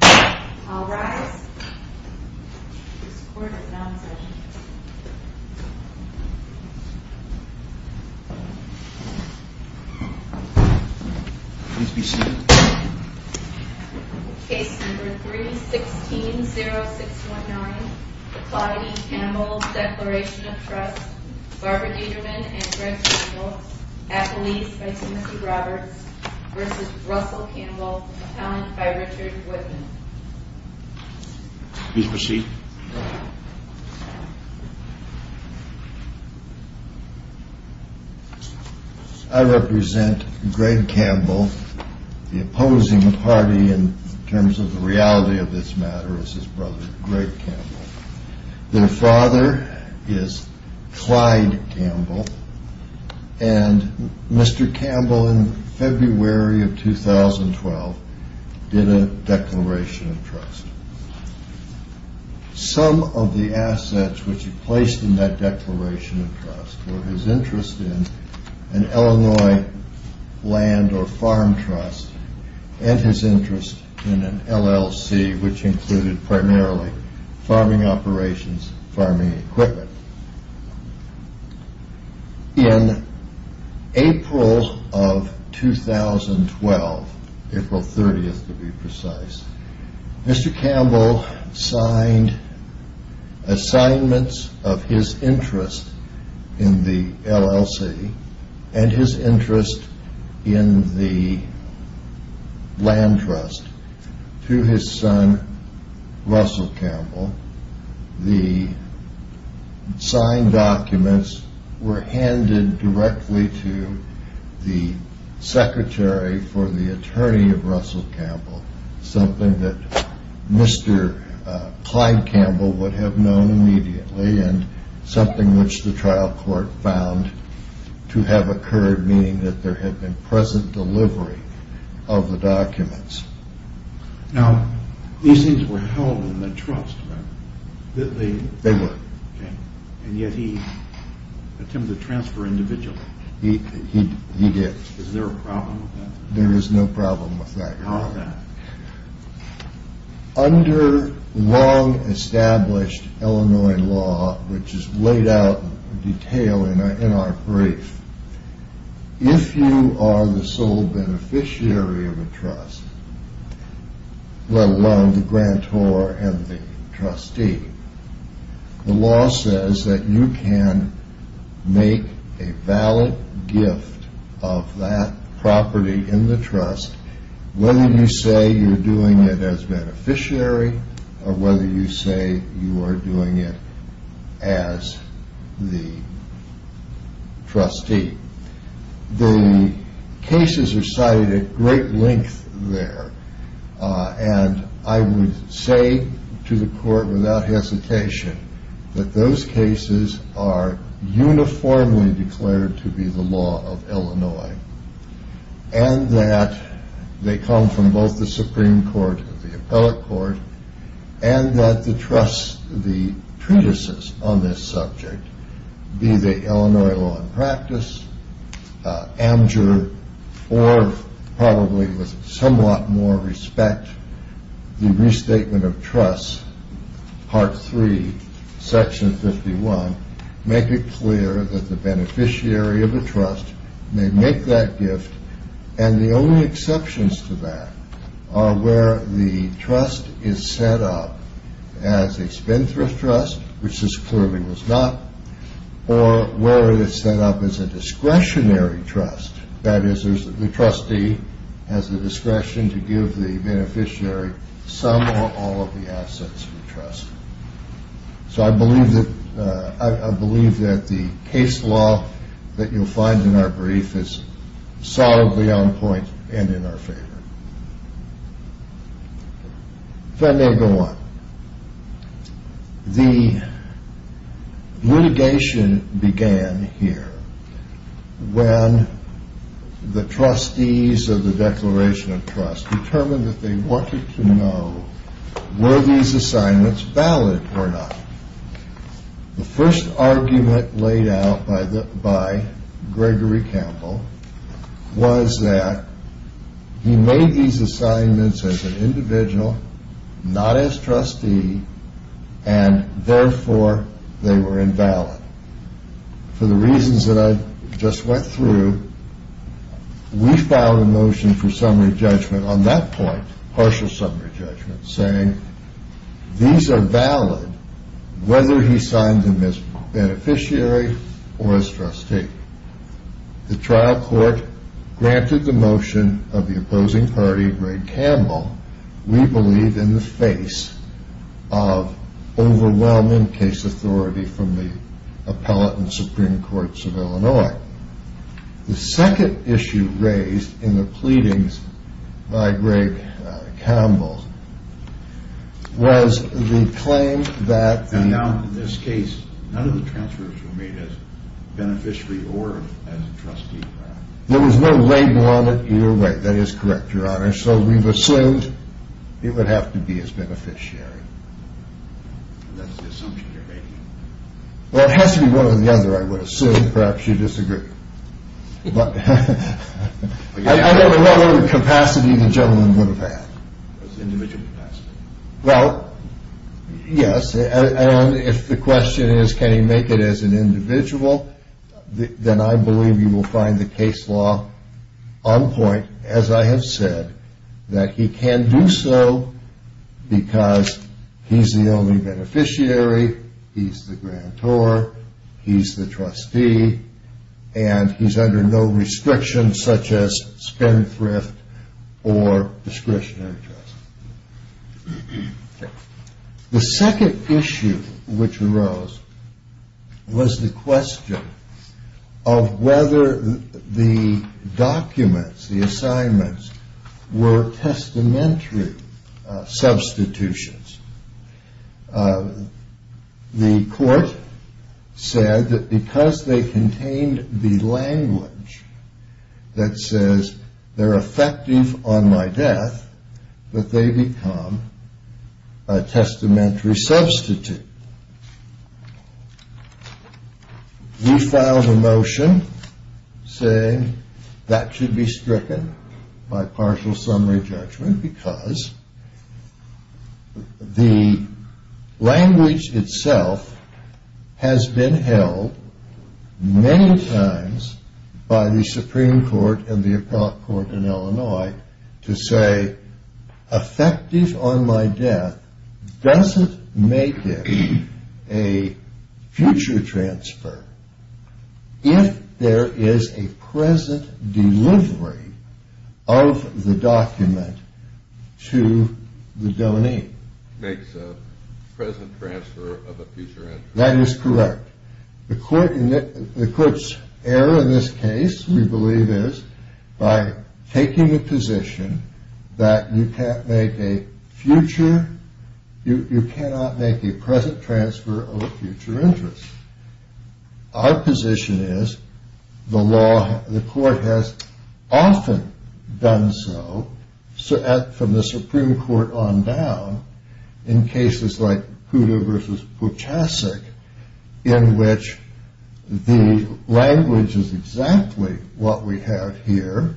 I'll rise. This court is now in session. Case number 3-16-0619 Claude E. Campbell Declaration of Trust Barbara Deiderman and Greg Campbell Appellees by Timothy Roberts v. Russell Campbell Appellant by Richard Woodman Please proceed. I represent Greg Campbell. The opposing party in terms of the reality of this matter is his brother Greg Campbell. Their father is Clyde Campbell and Mr. Campbell in February of 2012 did a declaration of trust. In April of 2012, April 30th to be precise, Mr. Campbell signed assignments of his interest in the LLC and his interest in the land trust to his son Russell Campbell. The signed documents were handed directly to the secretary for the attorney of Russell Campbell. Something that Mr. Clyde Campbell would have known immediately and something which the trial court found to have occurred, meaning that there had been present delivery of the documents. Now, these things were held in the trust, right? They were. And yet he attempted to transfer individually. He did. Is there a problem with that? Under long established Illinois law, which is laid out in detail in our brief, if you are the sole beneficiary of a trust, let alone the grantor and the trustee, the law says that you can make a valid gift of that property in the trust whether you say you are doing it as beneficiary or whether you say you are doing it as the trustee. The cases are cited at great length there and I would say to the court without hesitation that those cases are uniformly declared to be the law of Illinois. And that they come from both the Supreme Court, the appellate court, and that the trust, the treatises on this subject, be they Illinois law and practice, Amjur, or probably with somewhat more respect, the restatement of trust, part three, section 51, make it clear that the beneficiary of a trust may make that gift and the only exceptions to that are where the trust is set up as a spendthrift trust, which this clearly was not, or where it is set up as a discretionary trust. That is, the trustee has the discretion to give the beneficiary some or all of the assets of the trust. So I believe that the case law that you will find in our brief is solidly on point and in our favor. Fundamental one, the litigation began here when the trustees of the Declaration of Trust determined that they wanted to know were these assignments valid or not. The first argument laid out by Gregory Campbell was that he made these assignments as an individual, not as trustee, and therefore they were invalid. For the reasons that I just went through, we filed a motion for summary judgment on that point, partial summary judgment, saying these are valid whether he signed them as beneficiary or as trustee. The trial court granted the motion of the opposing party, Greg Campbell, we believe in the face of overwhelming case authority from the Appellate and Supreme Courts of Illinois. The second issue raised in the pleadings by Greg Campbell was the claim that... And now in this case, none of the transfers were made as beneficiary or as trustee. There was no label on it either way. That is correct, Your Honor. So we've assumed it would have to be as beneficiary. Well, it has to be one or the other, I would assume. Perhaps you disagree. But I don't know what capacity the gentleman would have had. Individual capacity. Well, yes, and if the question is can he make it as an individual, then I believe you will find the case law on point, as I have said, that he can do so because he's the only beneficiary, he's the grantor, he's the trustee, and he's under no restrictions such as spendthrift or discretionary trust. The second issue which arose was the question of whether the documents, the assignments, were testamentary substitutions. The court said that because they contained the language that says they're effective on my death, that they become a testamentary substitute. We filed a motion saying that should be stricken by partial summary judgment because the language itself has been held many times by the Supreme Court and the appellate court in Illinois to say effective on my death doesn't make it. It makes a future transfer if there is a present delivery of the document to the donee. Makes a present transfer of a future entry. That is correct. The court's error in this case, we believe, is by taking the position that you cannot make a present transfer of a future interest. Our position is the law, the court has often done so, from the Supreme Court on down, in cases like Puda v. Puchacic in which the language is exactly what we have here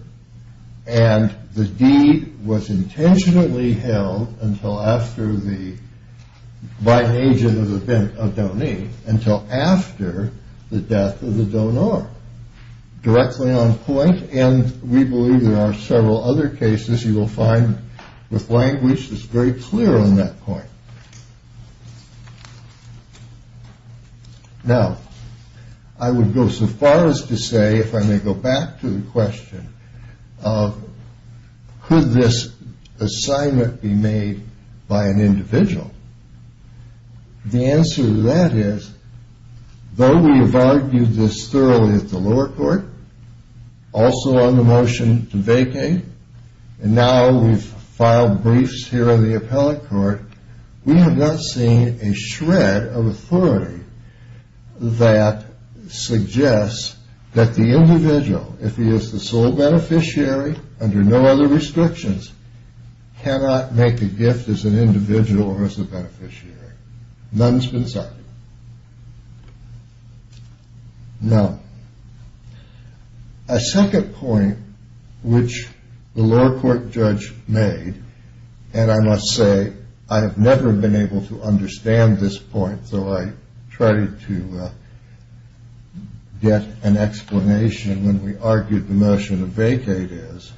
and the deed was intentionally held by an agent of the donee until after the death of the donor. Directly on point and we believe there are several other cases you will find with language that's very clear on that point. Now, I would go so far as to say, if I may go back to the question, could this assignment be made by an individual? The answer to that is, though we have argued this thoroughly at the lower court, also on the motion to vacate, and now we've filed briefs here in the appellate court, we have not seen a shred of authority that suggests that the individual, if he is the sole beneficiary under no other restrictions, cannot make a gift as an individual or as a beneficiary. None has been cited. Now, a second point which the lower court judge made, and I must say I have never been able to understand this point, though I tried to get an explanation when we argued the motion to vacate is,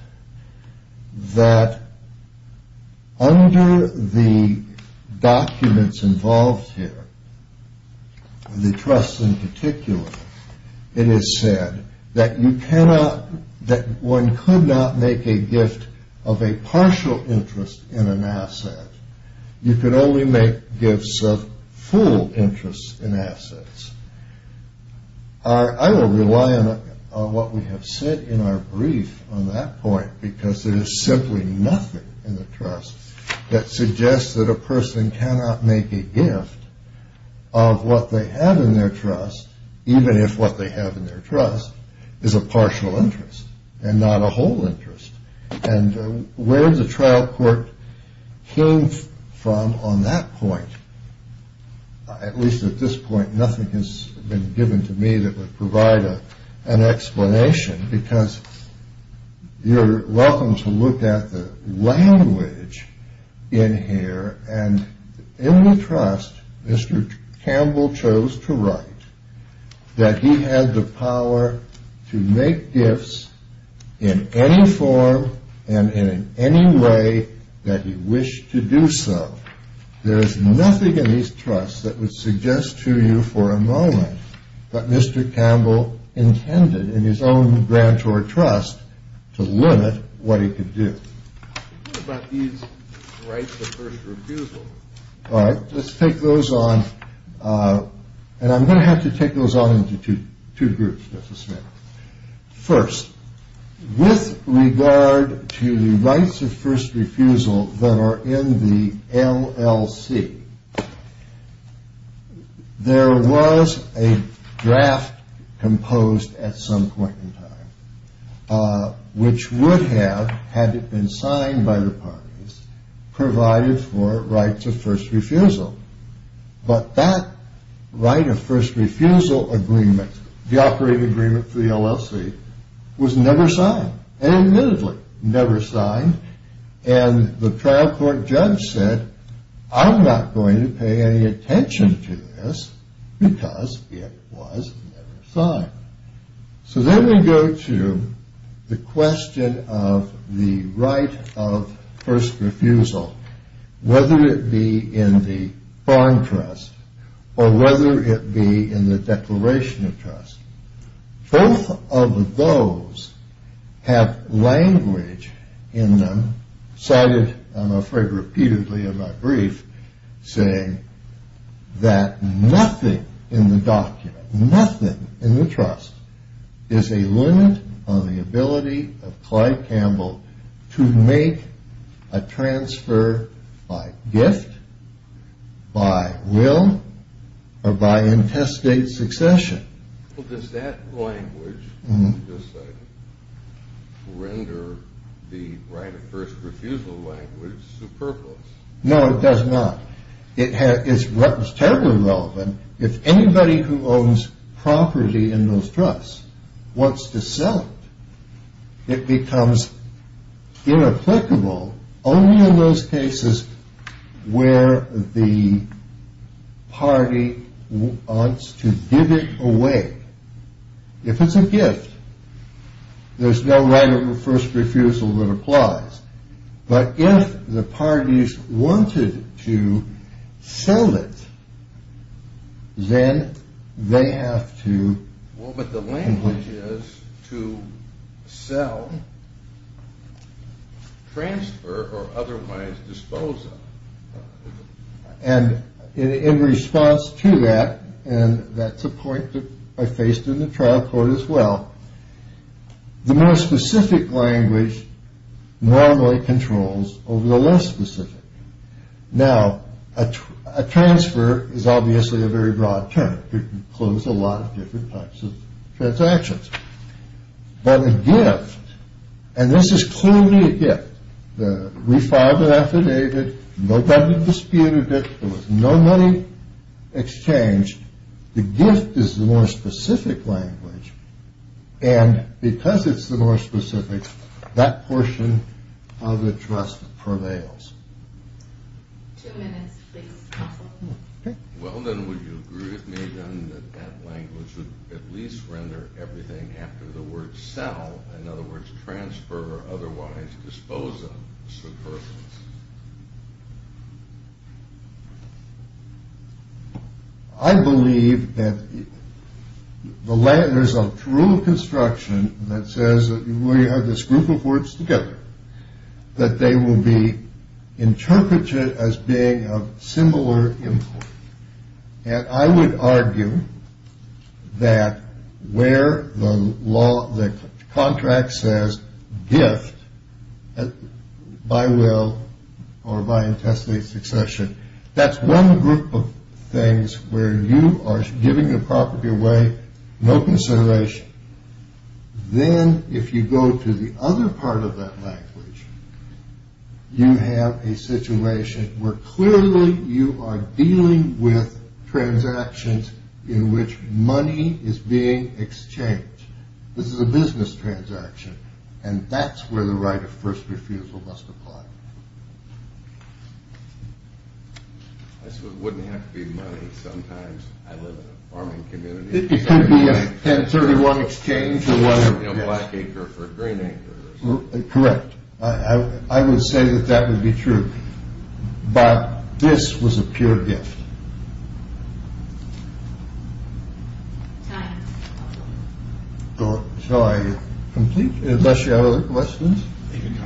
that under the documents involved here, the trust in particular, it is said that one could not make a gift of a partial interest in an asset. You could only make gifts of full interest in assets. I will rely on what we have said in our brief on that point, because there is simply nothing in the trust that suggests that a person cannot make a gift of what they have in their trust, even if what they have in their trust is a partial interest and not a whole interest. And where the trial court came from on that point, at least at this point, nothing has been given to me that would provide an explanation, because you're welcome to look at the language in here, and in the trust, Mr. Campbell chose to write that he had the power to make gifts in any form and in any way that he wished to do so. There is nothing in these trusts that would suggest to you for a moment that Mr. Campbell intended in his own grant or trust to limit what he could do. What about these rights of first refusal? All right, let's take those on. And I'm going to have to take those on into two groups, Justice Smith. First, with regard to the rights of first refusal that are in the LLC, there was a draft composed at some point in time, which would have, had it been signed by the parties, provided for rights of first refusal, but that right of first refusal agreement, the operating agreement for the LLC, was never signed, and admittedly never signed, and the trial court judge said, I'm not going to pay any attention to this because it was never signed. So then we go to the question of the right of first refusal, whether it be in the bond trust or whether it be in the declaration of trust. Both of those have language in them cited, I'm afraid repeatedly in my brief, saying that nothing in the document, nothing in the trust, is a limit on the ability of Clyde Campbell to make a transfer by gift, by will, or by intestate succession. Well, does that language, as you just cited, render the right of first refusal language superfluous? No, it does not. It's terribly irrelevant if anybody who owns property in those trusts wants to sell it. It becomes inapplicable only in those cases where the party wants to give it away. If it's a gift, there's no right of first refusal that applies. But if the parties wanted to sell it, then they have to... sell, transfer, or otherwise dispose of it. And in response to that, and that's a point that I faced in the trial court as well, the more specific language normally controls over the less specific. Now, a transfer is obviously a very broad term. It includes a lot of different types of transactions. But a gift, and this is clearly a gift, the re-filed it, affidavit, nobody disputed it, there was no money exchanged. The gift is the more specific language, and because it's the more specific, that portion of the trust prevails. Two minutes, please. Well, then, would you agree with me, then, that that language would at least render everything after the word sell, in other words, transfer, or otherwise dispose of certain persons? I believe that there's a rule of construction that says, we have this group of words together, that they will be interpreted as being of similar importance. And I would argue that where the contract says gift, by will or by intestate succession, that's one group of things where you are giving the property away, no consideration. Then, if you go to the other part of that language, you have a situation where clearly you are dealing with transactions in which money is being exchanged. This is a business transaction, and that's where the right of first refusal must apply. I said it wouldn't have to be money. Sometimes I live in a farming community. It could be a 1031 exchange or whatever. A black acre for a green acre. Correct. I would say that that would be true. But this was a pure gift. Time. Shall I complete, unless you have other questions? You can go.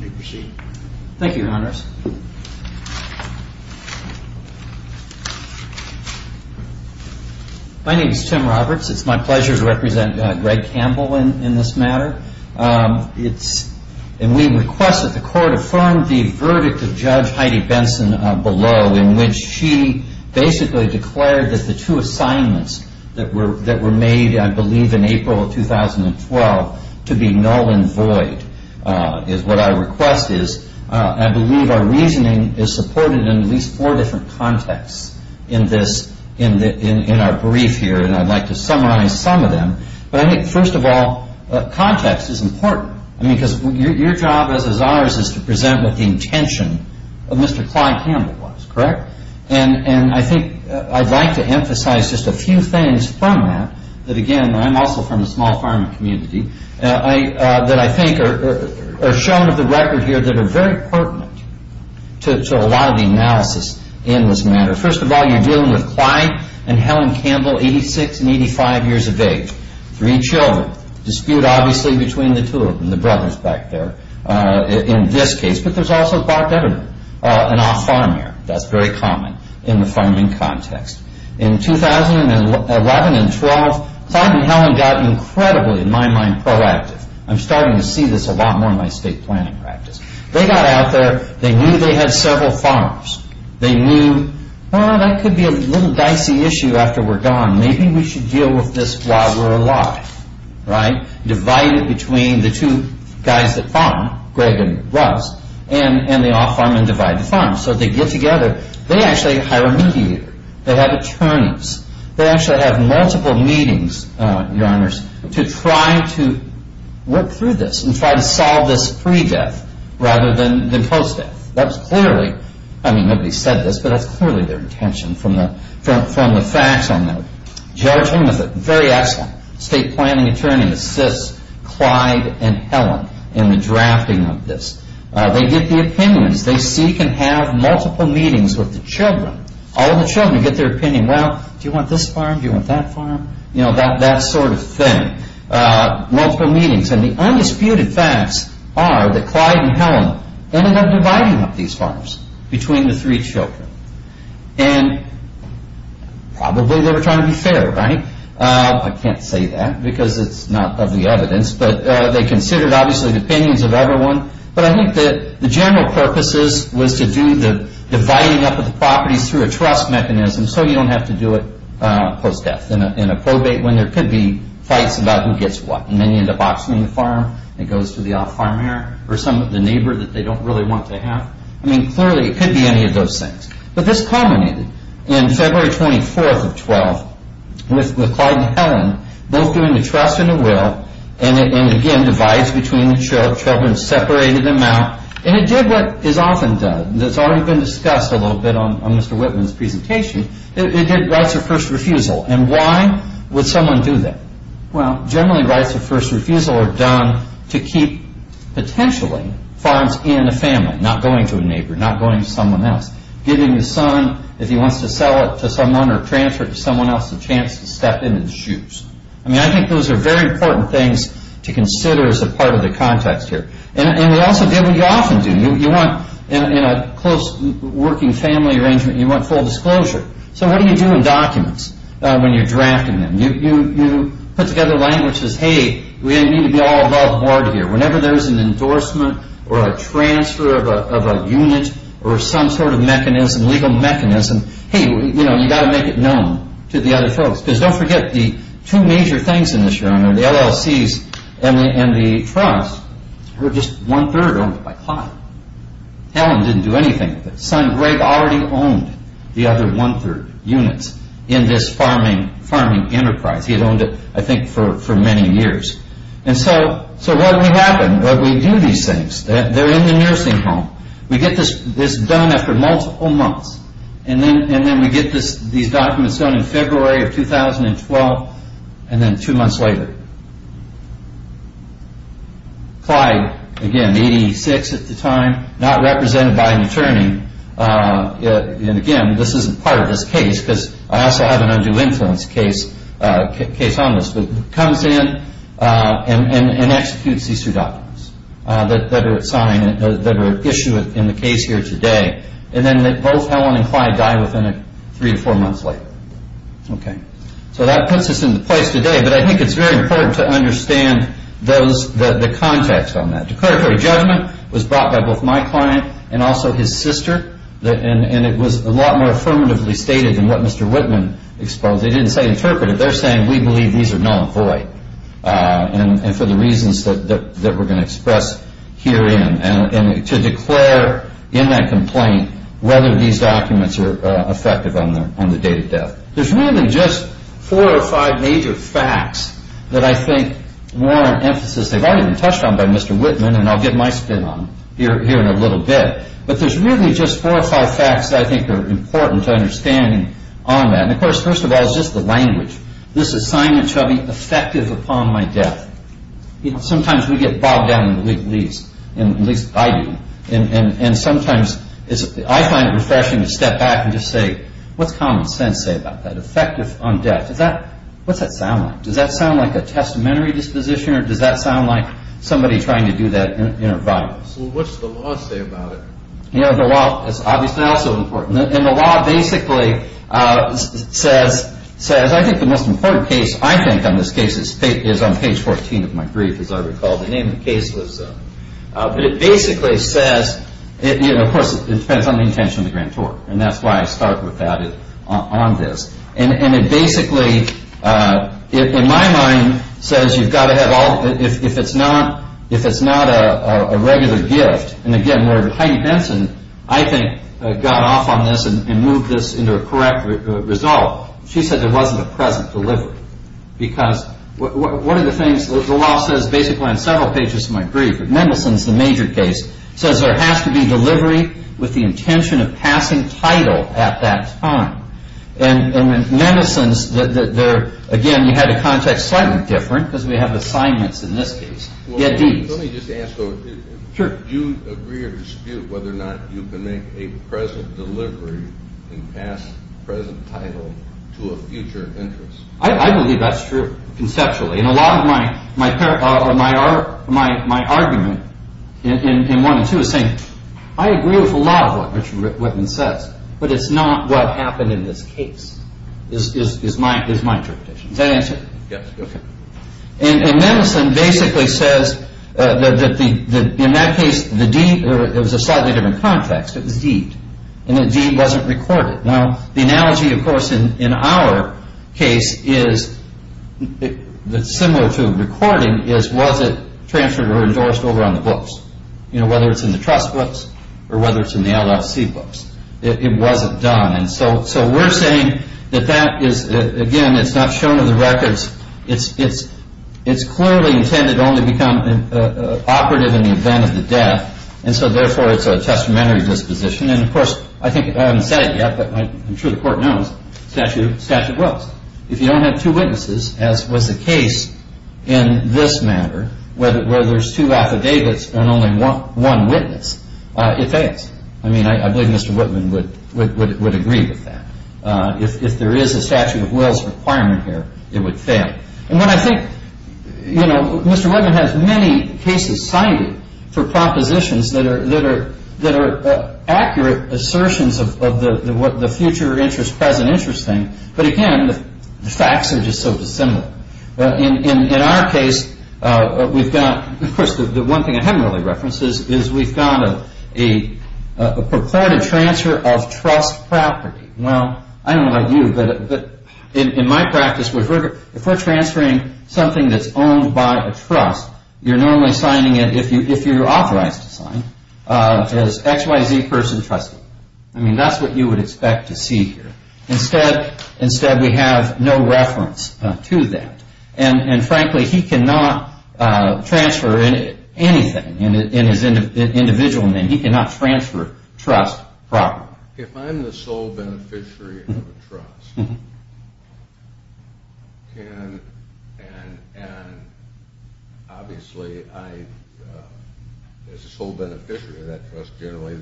You may proceed. Thank you, Your Honors. My name is Tim Roberts. It's my pleasure to represent Greg Campbell in this matter. And we request that the Court affirm the verdict of Judge Heidi Benson below, in which she basically declared that the two assignments that were made, I believe in April of 2012, to be null and void is what our request is. I believe our reasoning is supported in at least four different contexts in our brief here, and I'd like to summarize some of them. But I think, first of all, context is important, because your job, as is ours, is to present what the intention of Mr. Clyde Campbell was, correct? And I think I'd like to emphasize just a few things from that, that, again, I'm also from the small farming community, that I think are shown of the record here that are very pertinent to a lot of the analysis in this matter. First of all, you're dealing with Clyde and Helen Campbell, 86 and 85 years of age. Three children. Dispute, obviously, between the two of them, the brothers back there, in this case. But there's also Bob Devener, an off-farmer. That's very common in the farming context. In 2011 and 12, Clyde and Helen got incredibly, in my mind, proactive. I'm starting to see this a lot more in my state planning practice. They got out there. They knew they had several farms. They knew, well, that could be a little dicey issue after we're gone. Maybe we should deal with this while we're alive, right? Divided between the two guys that farm, Greg and Russ, and the off-farmers divide the farms. So they get together. They actually hire a mediator. They have attorneys. They actually have multiple meetings, Your Honors, to try to work through this and try to solve this pre-death rather than post-death. That's clearly, I mean, nobody said this, but that's clearly their intention from the facts on that. Judge Hingliff, very excellent. State planning attorney assists Clyde and Helen in the drafting of this. They get the opinions. They seek and have multiple meetings with the children, all of the children, to get their opinion. Well, do you want this farm? Do you want that farm? You know, that sort of thing, multiple meetings. And the undisputed facts are that Clyde and Helen ended up dividing up these farms between the three children. And probably they were trying to be fair, right? I can't say that because it's not of the evidence, but they considered, obviously, the opinions of everyone. But I think that the general purpose was to do the dividing up of the properties through a trust mechanism so you don't have to do it post-death in a probate when there could be fights about who gets what. And then you end up boxing the farm and it goes to the off-farmer or some of the neighbor that they don't really want to have. I mean, clearly it could be any of those things. But this culminated in February 24th of 12 with Clyde and Helen both doing the trust and the will and, again, divides between the children, separated them out. And it did what is often done. It's already been discussed a little bit on Mr. Whitman's presentation. It did rights of first refusal. And why would someone do that? Well, generally rights of first refusal are done to keep, potentially, farms in a family, not going to a neighbor, not going to someone else. Giving the son, if he wants to sell it to someone or transfer it to someone else, a chance to step in his shoes. I mean, I think those are very important things to consider as a part of the context here. And it also did what you often do. You want, in a close working family arrangement, you want full disclosure. So what do you do in documents when you're drafting them? You put together languages. Hey, we need to be all above board here. Whenever there's an endorsement or a transfer of a unit or some sort of mechanism, legal mechanism, hey, you've got to make it known to the other folks. Because don't forget the two major things in this realm are the LLCs and the trusts were just one-third owned by Clyde. Helen didn't do anything with it. Son Greg already owned the other one-third units in this farming enterprise. He had owned it, I think, for many years. And so what would happen? We do these things. They're in the nursing home. We get this done after multiple months. And then we get these documents done in February of 2012 and then two months later. Clyde, again, 86 at the time, not represented by an attorney. And again, this isn't part of this case because I also have an undue influence case on this. But he comes in and executes these two documents that are at issue in the case here today. And then both Helen and Clyde die within three or four months later. So that puts us in the place today. But I think it's very important to understand the context on that. Declaratory judgment was brought by both my client and also his sister. And it was a lot more affirmatively stated than what Mr. Whitman exposed. They didn't say interpreted. They're saying we believe these are null and void and for the reasons that we're going to express herein. And to declare in that complaint whether these documents are effective on the date of death. There's really just four or five major facts that I think warrant emphasis. They've already been touched on by Mr. Whitman, and I'll get my spin on them here in a little bit. But there's really just four or five facts that I think are important to understanding on that. And, of course, first of all is just the language. This assignment shall be effective upon my death. Sometimes we get bogged down in the legalese. At least I do. And sometimes I find it refreshing to step back and just say, what's common sense say about that? Effective on death. What's that sound like? Does that sound like a testamentary disposition? Or does that sound like somebody trying to do that in a violence? Well, what's the law say about it? The law is obviously also important. And the law basically says, I think the most important case I think on this case is on page 14 of my brief, as I recall. The name of the case was, but it basically says, of course, it depends on the intention of the grand tort. And that's why I start with that on this. And it basically, in my mind, says you've got to have all, if it's not a regular gift. And again, where Heidi Benson, I think, got off on this and moved this into a correct result. She said there wasn't a present delivery. Because one of the things the law says basically on several pages of my brief, Mendelsohn's the major case, says there has to be delivery with the intention of passing title at that time. And Mendelsohn's, again, you had a context slightly different because we have assignments in this case. Let me just ask, do you agree or dispute whether or not you can make a present delivery and pass present title to a future interest? I believe that's true, conceptually. And a lot of my argument in one and two is saying, I agree with a lot of what Richard Whitman says, but it's not what happened in this case, is my interpretation. Is that an answer? Yes. Okay. And Mendelsohn basically says that in that case, it was a slightly different context. It was deed. And the deed wasn't recorded. Now, the analogy, of course, in our case is similar to recording is, was it transferred or endorsed over on the books? You know, whether it's in the trust books or whether it's in the LLC books. It wasn't done. So we're saying that that is, again, it's not shown in the records. It's clearly intended only to become operative in the event of the death. And so, therefore, it's a testamentary disposition. And, of course, I haven't said it yet, but I'm sure the Court knows, statute wills. If you don't have two witnesses, as was the case in this matter, where there's two affidavits and only one witness, it fails. I mean, I believe Mr. Whitman would agree with that. If there is a statute of wills requirement here, it would fail. And what I think, you know, Mr. Whitman has many cases cited for propositions that are accurate assertions of the future interest, present interest thing. But, again, the facts are just so dissimilar. In our case, we've got, of course, the one thing I haven't really referenced is we've got a purported transfer of trust property. Well, I don't know about you, but in my practice, if we're transferring something that's owned by a trust, you're normally signing it, if you're authorized to sign, as X, Y, Z person trustee. I mean, that's what you would expect to see here. Instead, we have no reference to that. And, frankly, he cannot transfer anything in his individual name. He cannot transfer trust properly. If I'm the sole beneficiary of a trust, and, obviously, as a sole beneficiary of that trust, generally,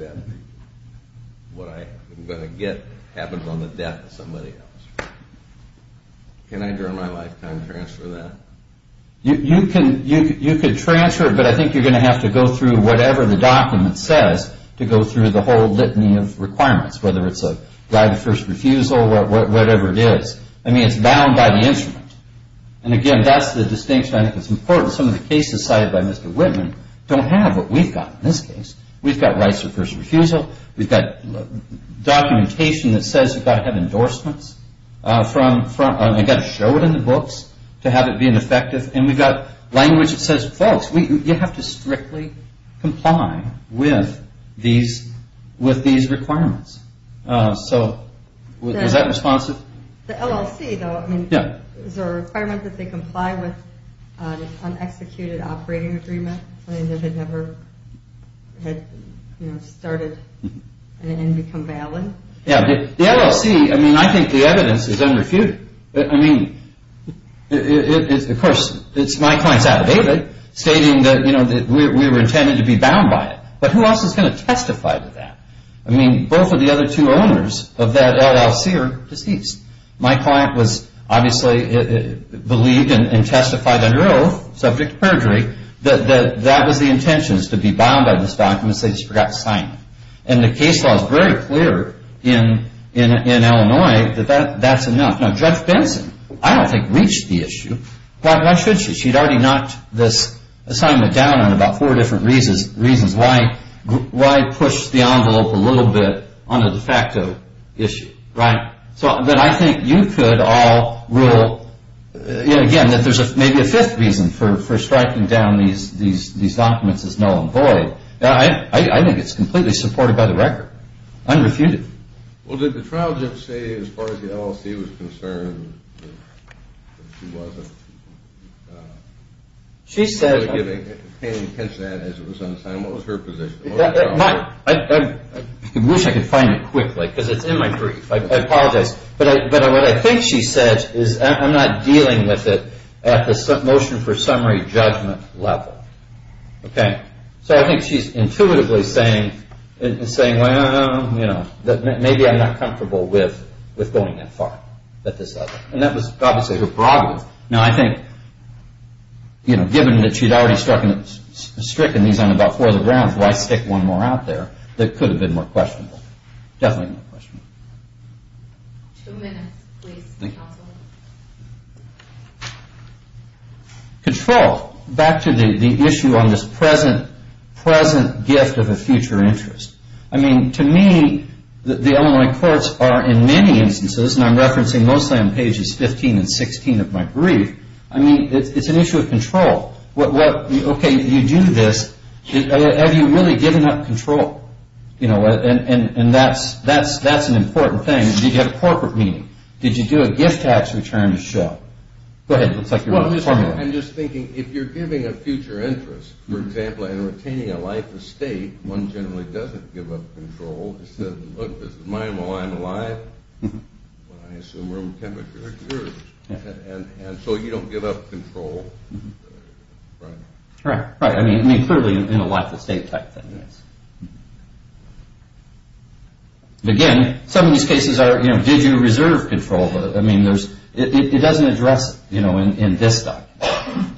what I'm going to get happens on the death of somebody else. Can I, during my lifetime, transfer that? You can transfer it, but I think you're going to have to go through whatever the document says to go through the whole litany of requirements, whether it's a right of first refusal, whatever it is. I mean, it's bound by the instrument. And, again, that's the distinction I think that's important. Some of the cases cited by Mr. Whitman don't have what we've got in this case. We've got rights of first refusal. We've got documentation that says you've got to have endorsements. You've got to show it in the books to have it being effective. And we've got language that says, folks, you have to strictly comply with these requirements. So is that responsive? The LLC, though, I mean, is there a requirement that they comply with an unexecuted operating agreement? Something that had never started and become valid? Yeah. The LLC, I mean, I think the evidence is unrefuted. I mean, of course, it's my client's affidavit stating that we were intended to be bound by it. But who else is going to testify to that? I mean, both of the other two owners of that LLC are deceased. My client was obviously believed and testified under oath, subject to perjury, that that was the intention, to be bound by this document, so they just forgot to sign it. And the case law is very clear in Illinois that that's enough. Now, Judge Benson, I don't think, reached the issue. Why should she? She'd already knocked this assignment down on about four different reasons. Why push the envelope a little bit on a de facto issue, right? But I think you could all rule, again, that there's maybe a fifth reason for striking down these documents as null and void. I think it's completely supported by the record, unrefuted. Well, did the trial judge say, as far as the LLC was concerned, that she wasn't giving attention to that as it was on the assignment? What was her position? I wish I could find it quickly, because it's in my brief. I apologize. But what I think she said is, I'm not dealing with it at the motion for summary judgment level. Okay. So I think she's intuitively saying, well, maybe I'm not comfortable with going that far at this level. And that was obviously her prerogative. Now, I think, given that she'd already stricken these on about four of the grounds, why stick one more out there that could have been more questionable? Definitely more questionable. Two minutes, please, counsel. Control. Back to the issue on this present gift of a future interest. I mean, to me, the Illinois courts are, in many instances, and I'm referencing mostly on pages 15 and 16 of my brief, I mean, it's an issue of control. Okay, you do this. Have you really given up control? And that's an important thing. Did you get a corporate meeting? Did you do a gift tax return to show? Go ahead. It looks like you're reformulating. I'm just thinking, if you're giving a future interest, for example, in retaining a life estate, one generally doesn't give up control. It says, look, this is mine while I'm alive. Well, I assume room temperature is yours. And so you don't give up control, right? Right. I mean, clearly in a life estate type thing, yes. Again, some of these cases are, you know, did you reserve control? I mean, it doesn't address, you know, in this type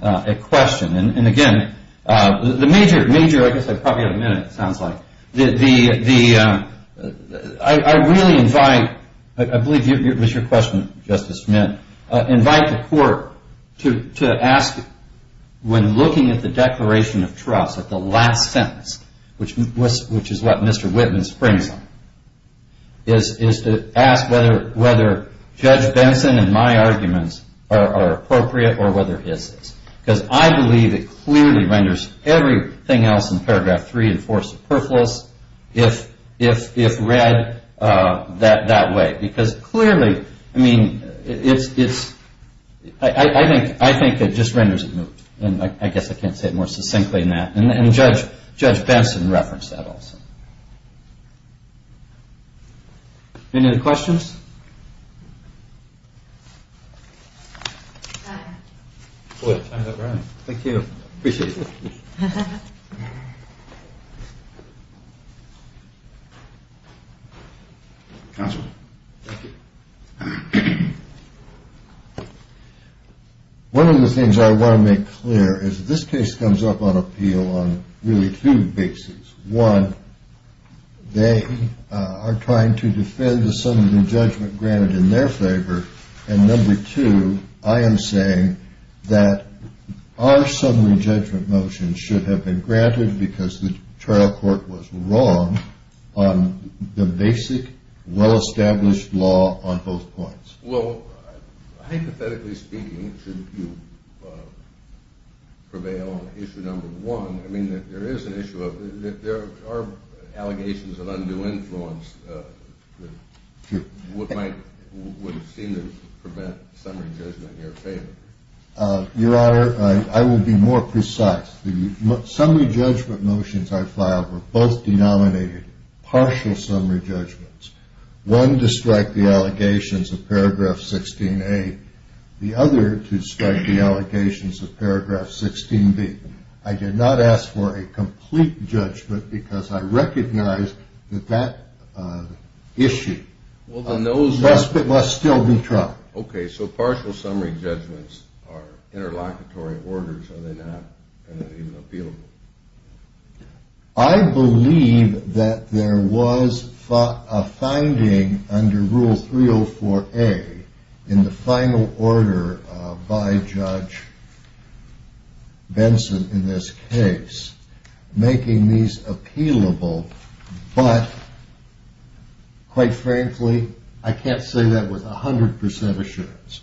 of question. And, again, the major, I guess I probably have a minute, it sounds like, I really invite, I believe it was your question, Justice Schmitt, invite the court to ask when looking at the declaration of trust at the last sentence, which is what Mr. Whitman springs on, is to ask whether Judge Benson and my arguments are appropriate or whether his is. Because I believe it clearly renders everything else in paragraph three and four superfluous if read that way. Because clearly, I mean, it's, I think it just renders it moot. And I guess I can't say it more succinctly than that. And Judge Benson referenced that also. Any other questions? Thank you. One of the things I want to make clear is this case comes up on appeal on really two bases. One, they are trying to defend the summary judgment granted in their favor. And, number two, I am saying that our summary judgment motion should have been granted because the trial court was wrong on the basic, well-established law on both points. Well, hypothetically speaking, it should prevail on issue number one. I mean, there is an issue of, there are allegations of undue influence that would seem to prevent summary judgment in your favor. Your Honor, I will be more precise. The summary judgment motions I filed were both denominated partial summary judgments. One to strike the allegations of paragraph 16A. The other to strike the allegations of paragraph 16B. I did not ask for a complete judgment because I recognize that that issue must still be tried. Okay, so partial summary judgments are interlocutory orders. Are they not even appealable? I believe that there was a finding under Rule 304A in the final order by Judge Benson in this case making these appealable. But, quite frankly, I can't say that with 100% assurance.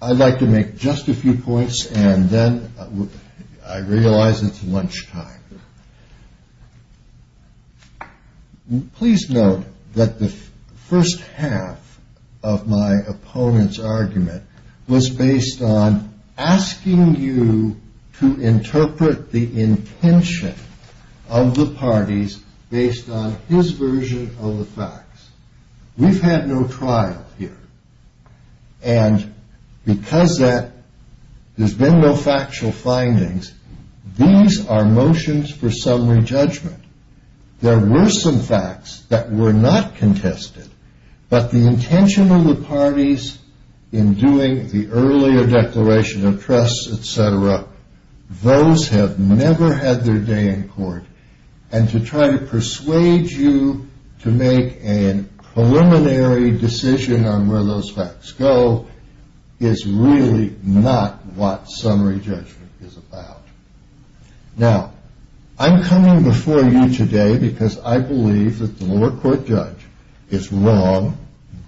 I'd like to make just a few points and then I realize it's lunchtime. Please note that the first half of my opponent's argument was based on asking you to interpret the intention of the parties based on his version of the facts. We've had no trial here. And because there's been no factual findings, these are motions for summary judgment. There were some facts that were not contested, but the intention of the parties in doing the earlier declaration of trust, etc., those have never had their day in court. And to try to persuade you to make a preliminary decision on where those facts go is really not what summary judgment is about. Now, I'm coming before you today because I believe that the lower court judge is wrong,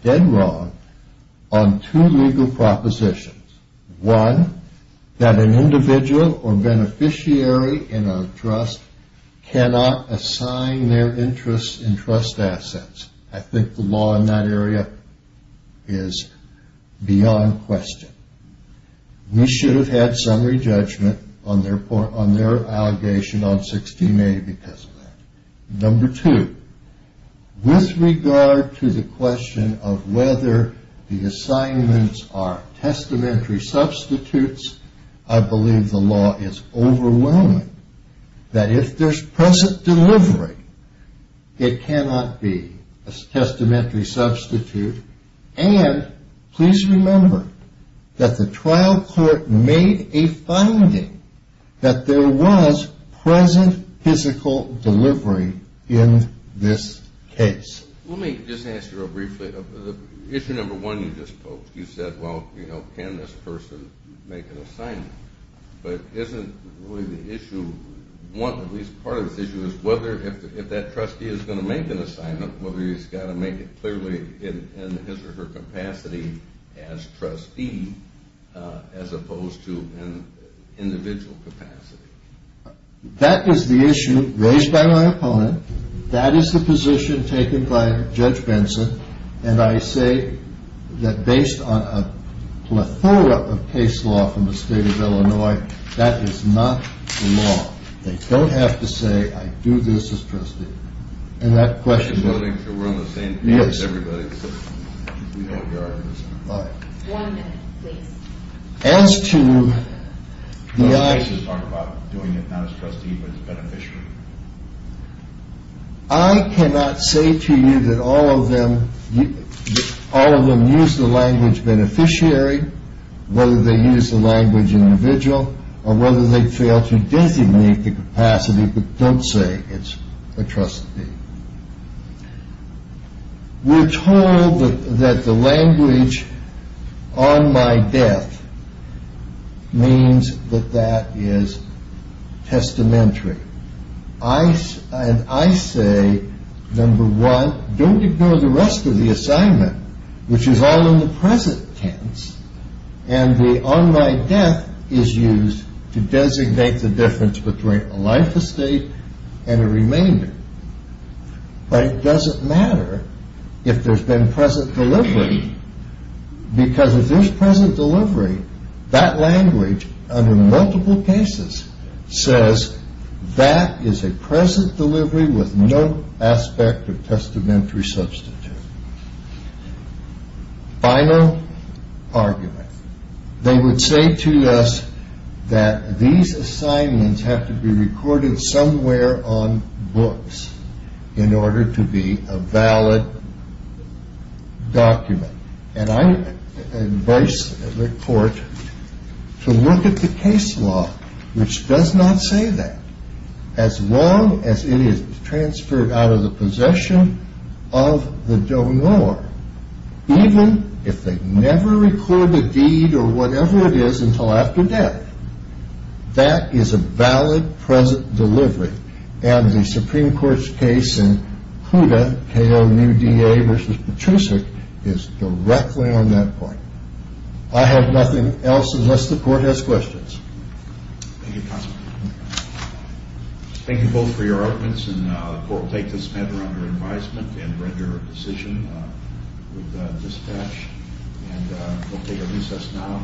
dead wrong, on two legal propositions. One, that an individual or beneficiary in a trust cannot assign their interest in trust assets. I think the law in that area is beyond question. We should have had summary judgment on their allegation on 16A because of that. Number two, with regard to the question of whether the assignments are testamentary substitutes, I believe the law is overwhelming that if there's present delivery, it cannot be a testamentary substitute. And please remember that the trial court made a finding that there was present physical delivery in this case. Let me just ask you real briefly. Issue number one you just posed, you said, well, you know, can this person make an assignment? But isn't really the issue, at least part of the issue, is whether if that trustee is going to make an assignment, whether he's got to make it clearly in his or her capacity as trustee as opposed to an individual capacity. That is the issue raised by my opponent. That is the position taken by Judge Benson. And I say that based on a plethora of case law from the state of Illinois, that is not the law. They don't have to say, I do this as trustee. And that question is, I think we're on the same page as everybody. One minute, please. As to the I, I cannot say to you that all of them, all of them use the language beneficiary, whether they use the language individual or whether they fail to designate the capacity. But don't say it's a trustee. We're told that the language on my death means that that is testamentary. And I say, number one, don't ignore the rest of the assignment, which is all in the present tense. And the on my death is used to designate the difference between a life estate and a remainder. But it doesn't matter if there's been present delivery, because if there's present delivery, that language under multiple cases says that is a present delivery with no aspect of testamentary substitute. Final argument. They would say to us that these assignments have to be recorded somewhere on books in order to be a valid document. And I advise the court to look at the case law, which does not say that. As long as it is transferred out of the possession of the donor, even if they never record the deed or whatever it is until after death, that is a valid present delivery. And the Supreme Court's case in Huda, K.O. New D.A. v. Patrusik is directly on that point. I have nothing else unless the court has questions. Thank you, counsel. Thank you both for your arguments. And the court will take this matter under advisement and render a decision with dispatch. And we'll take a recess now. Court is now adjourned.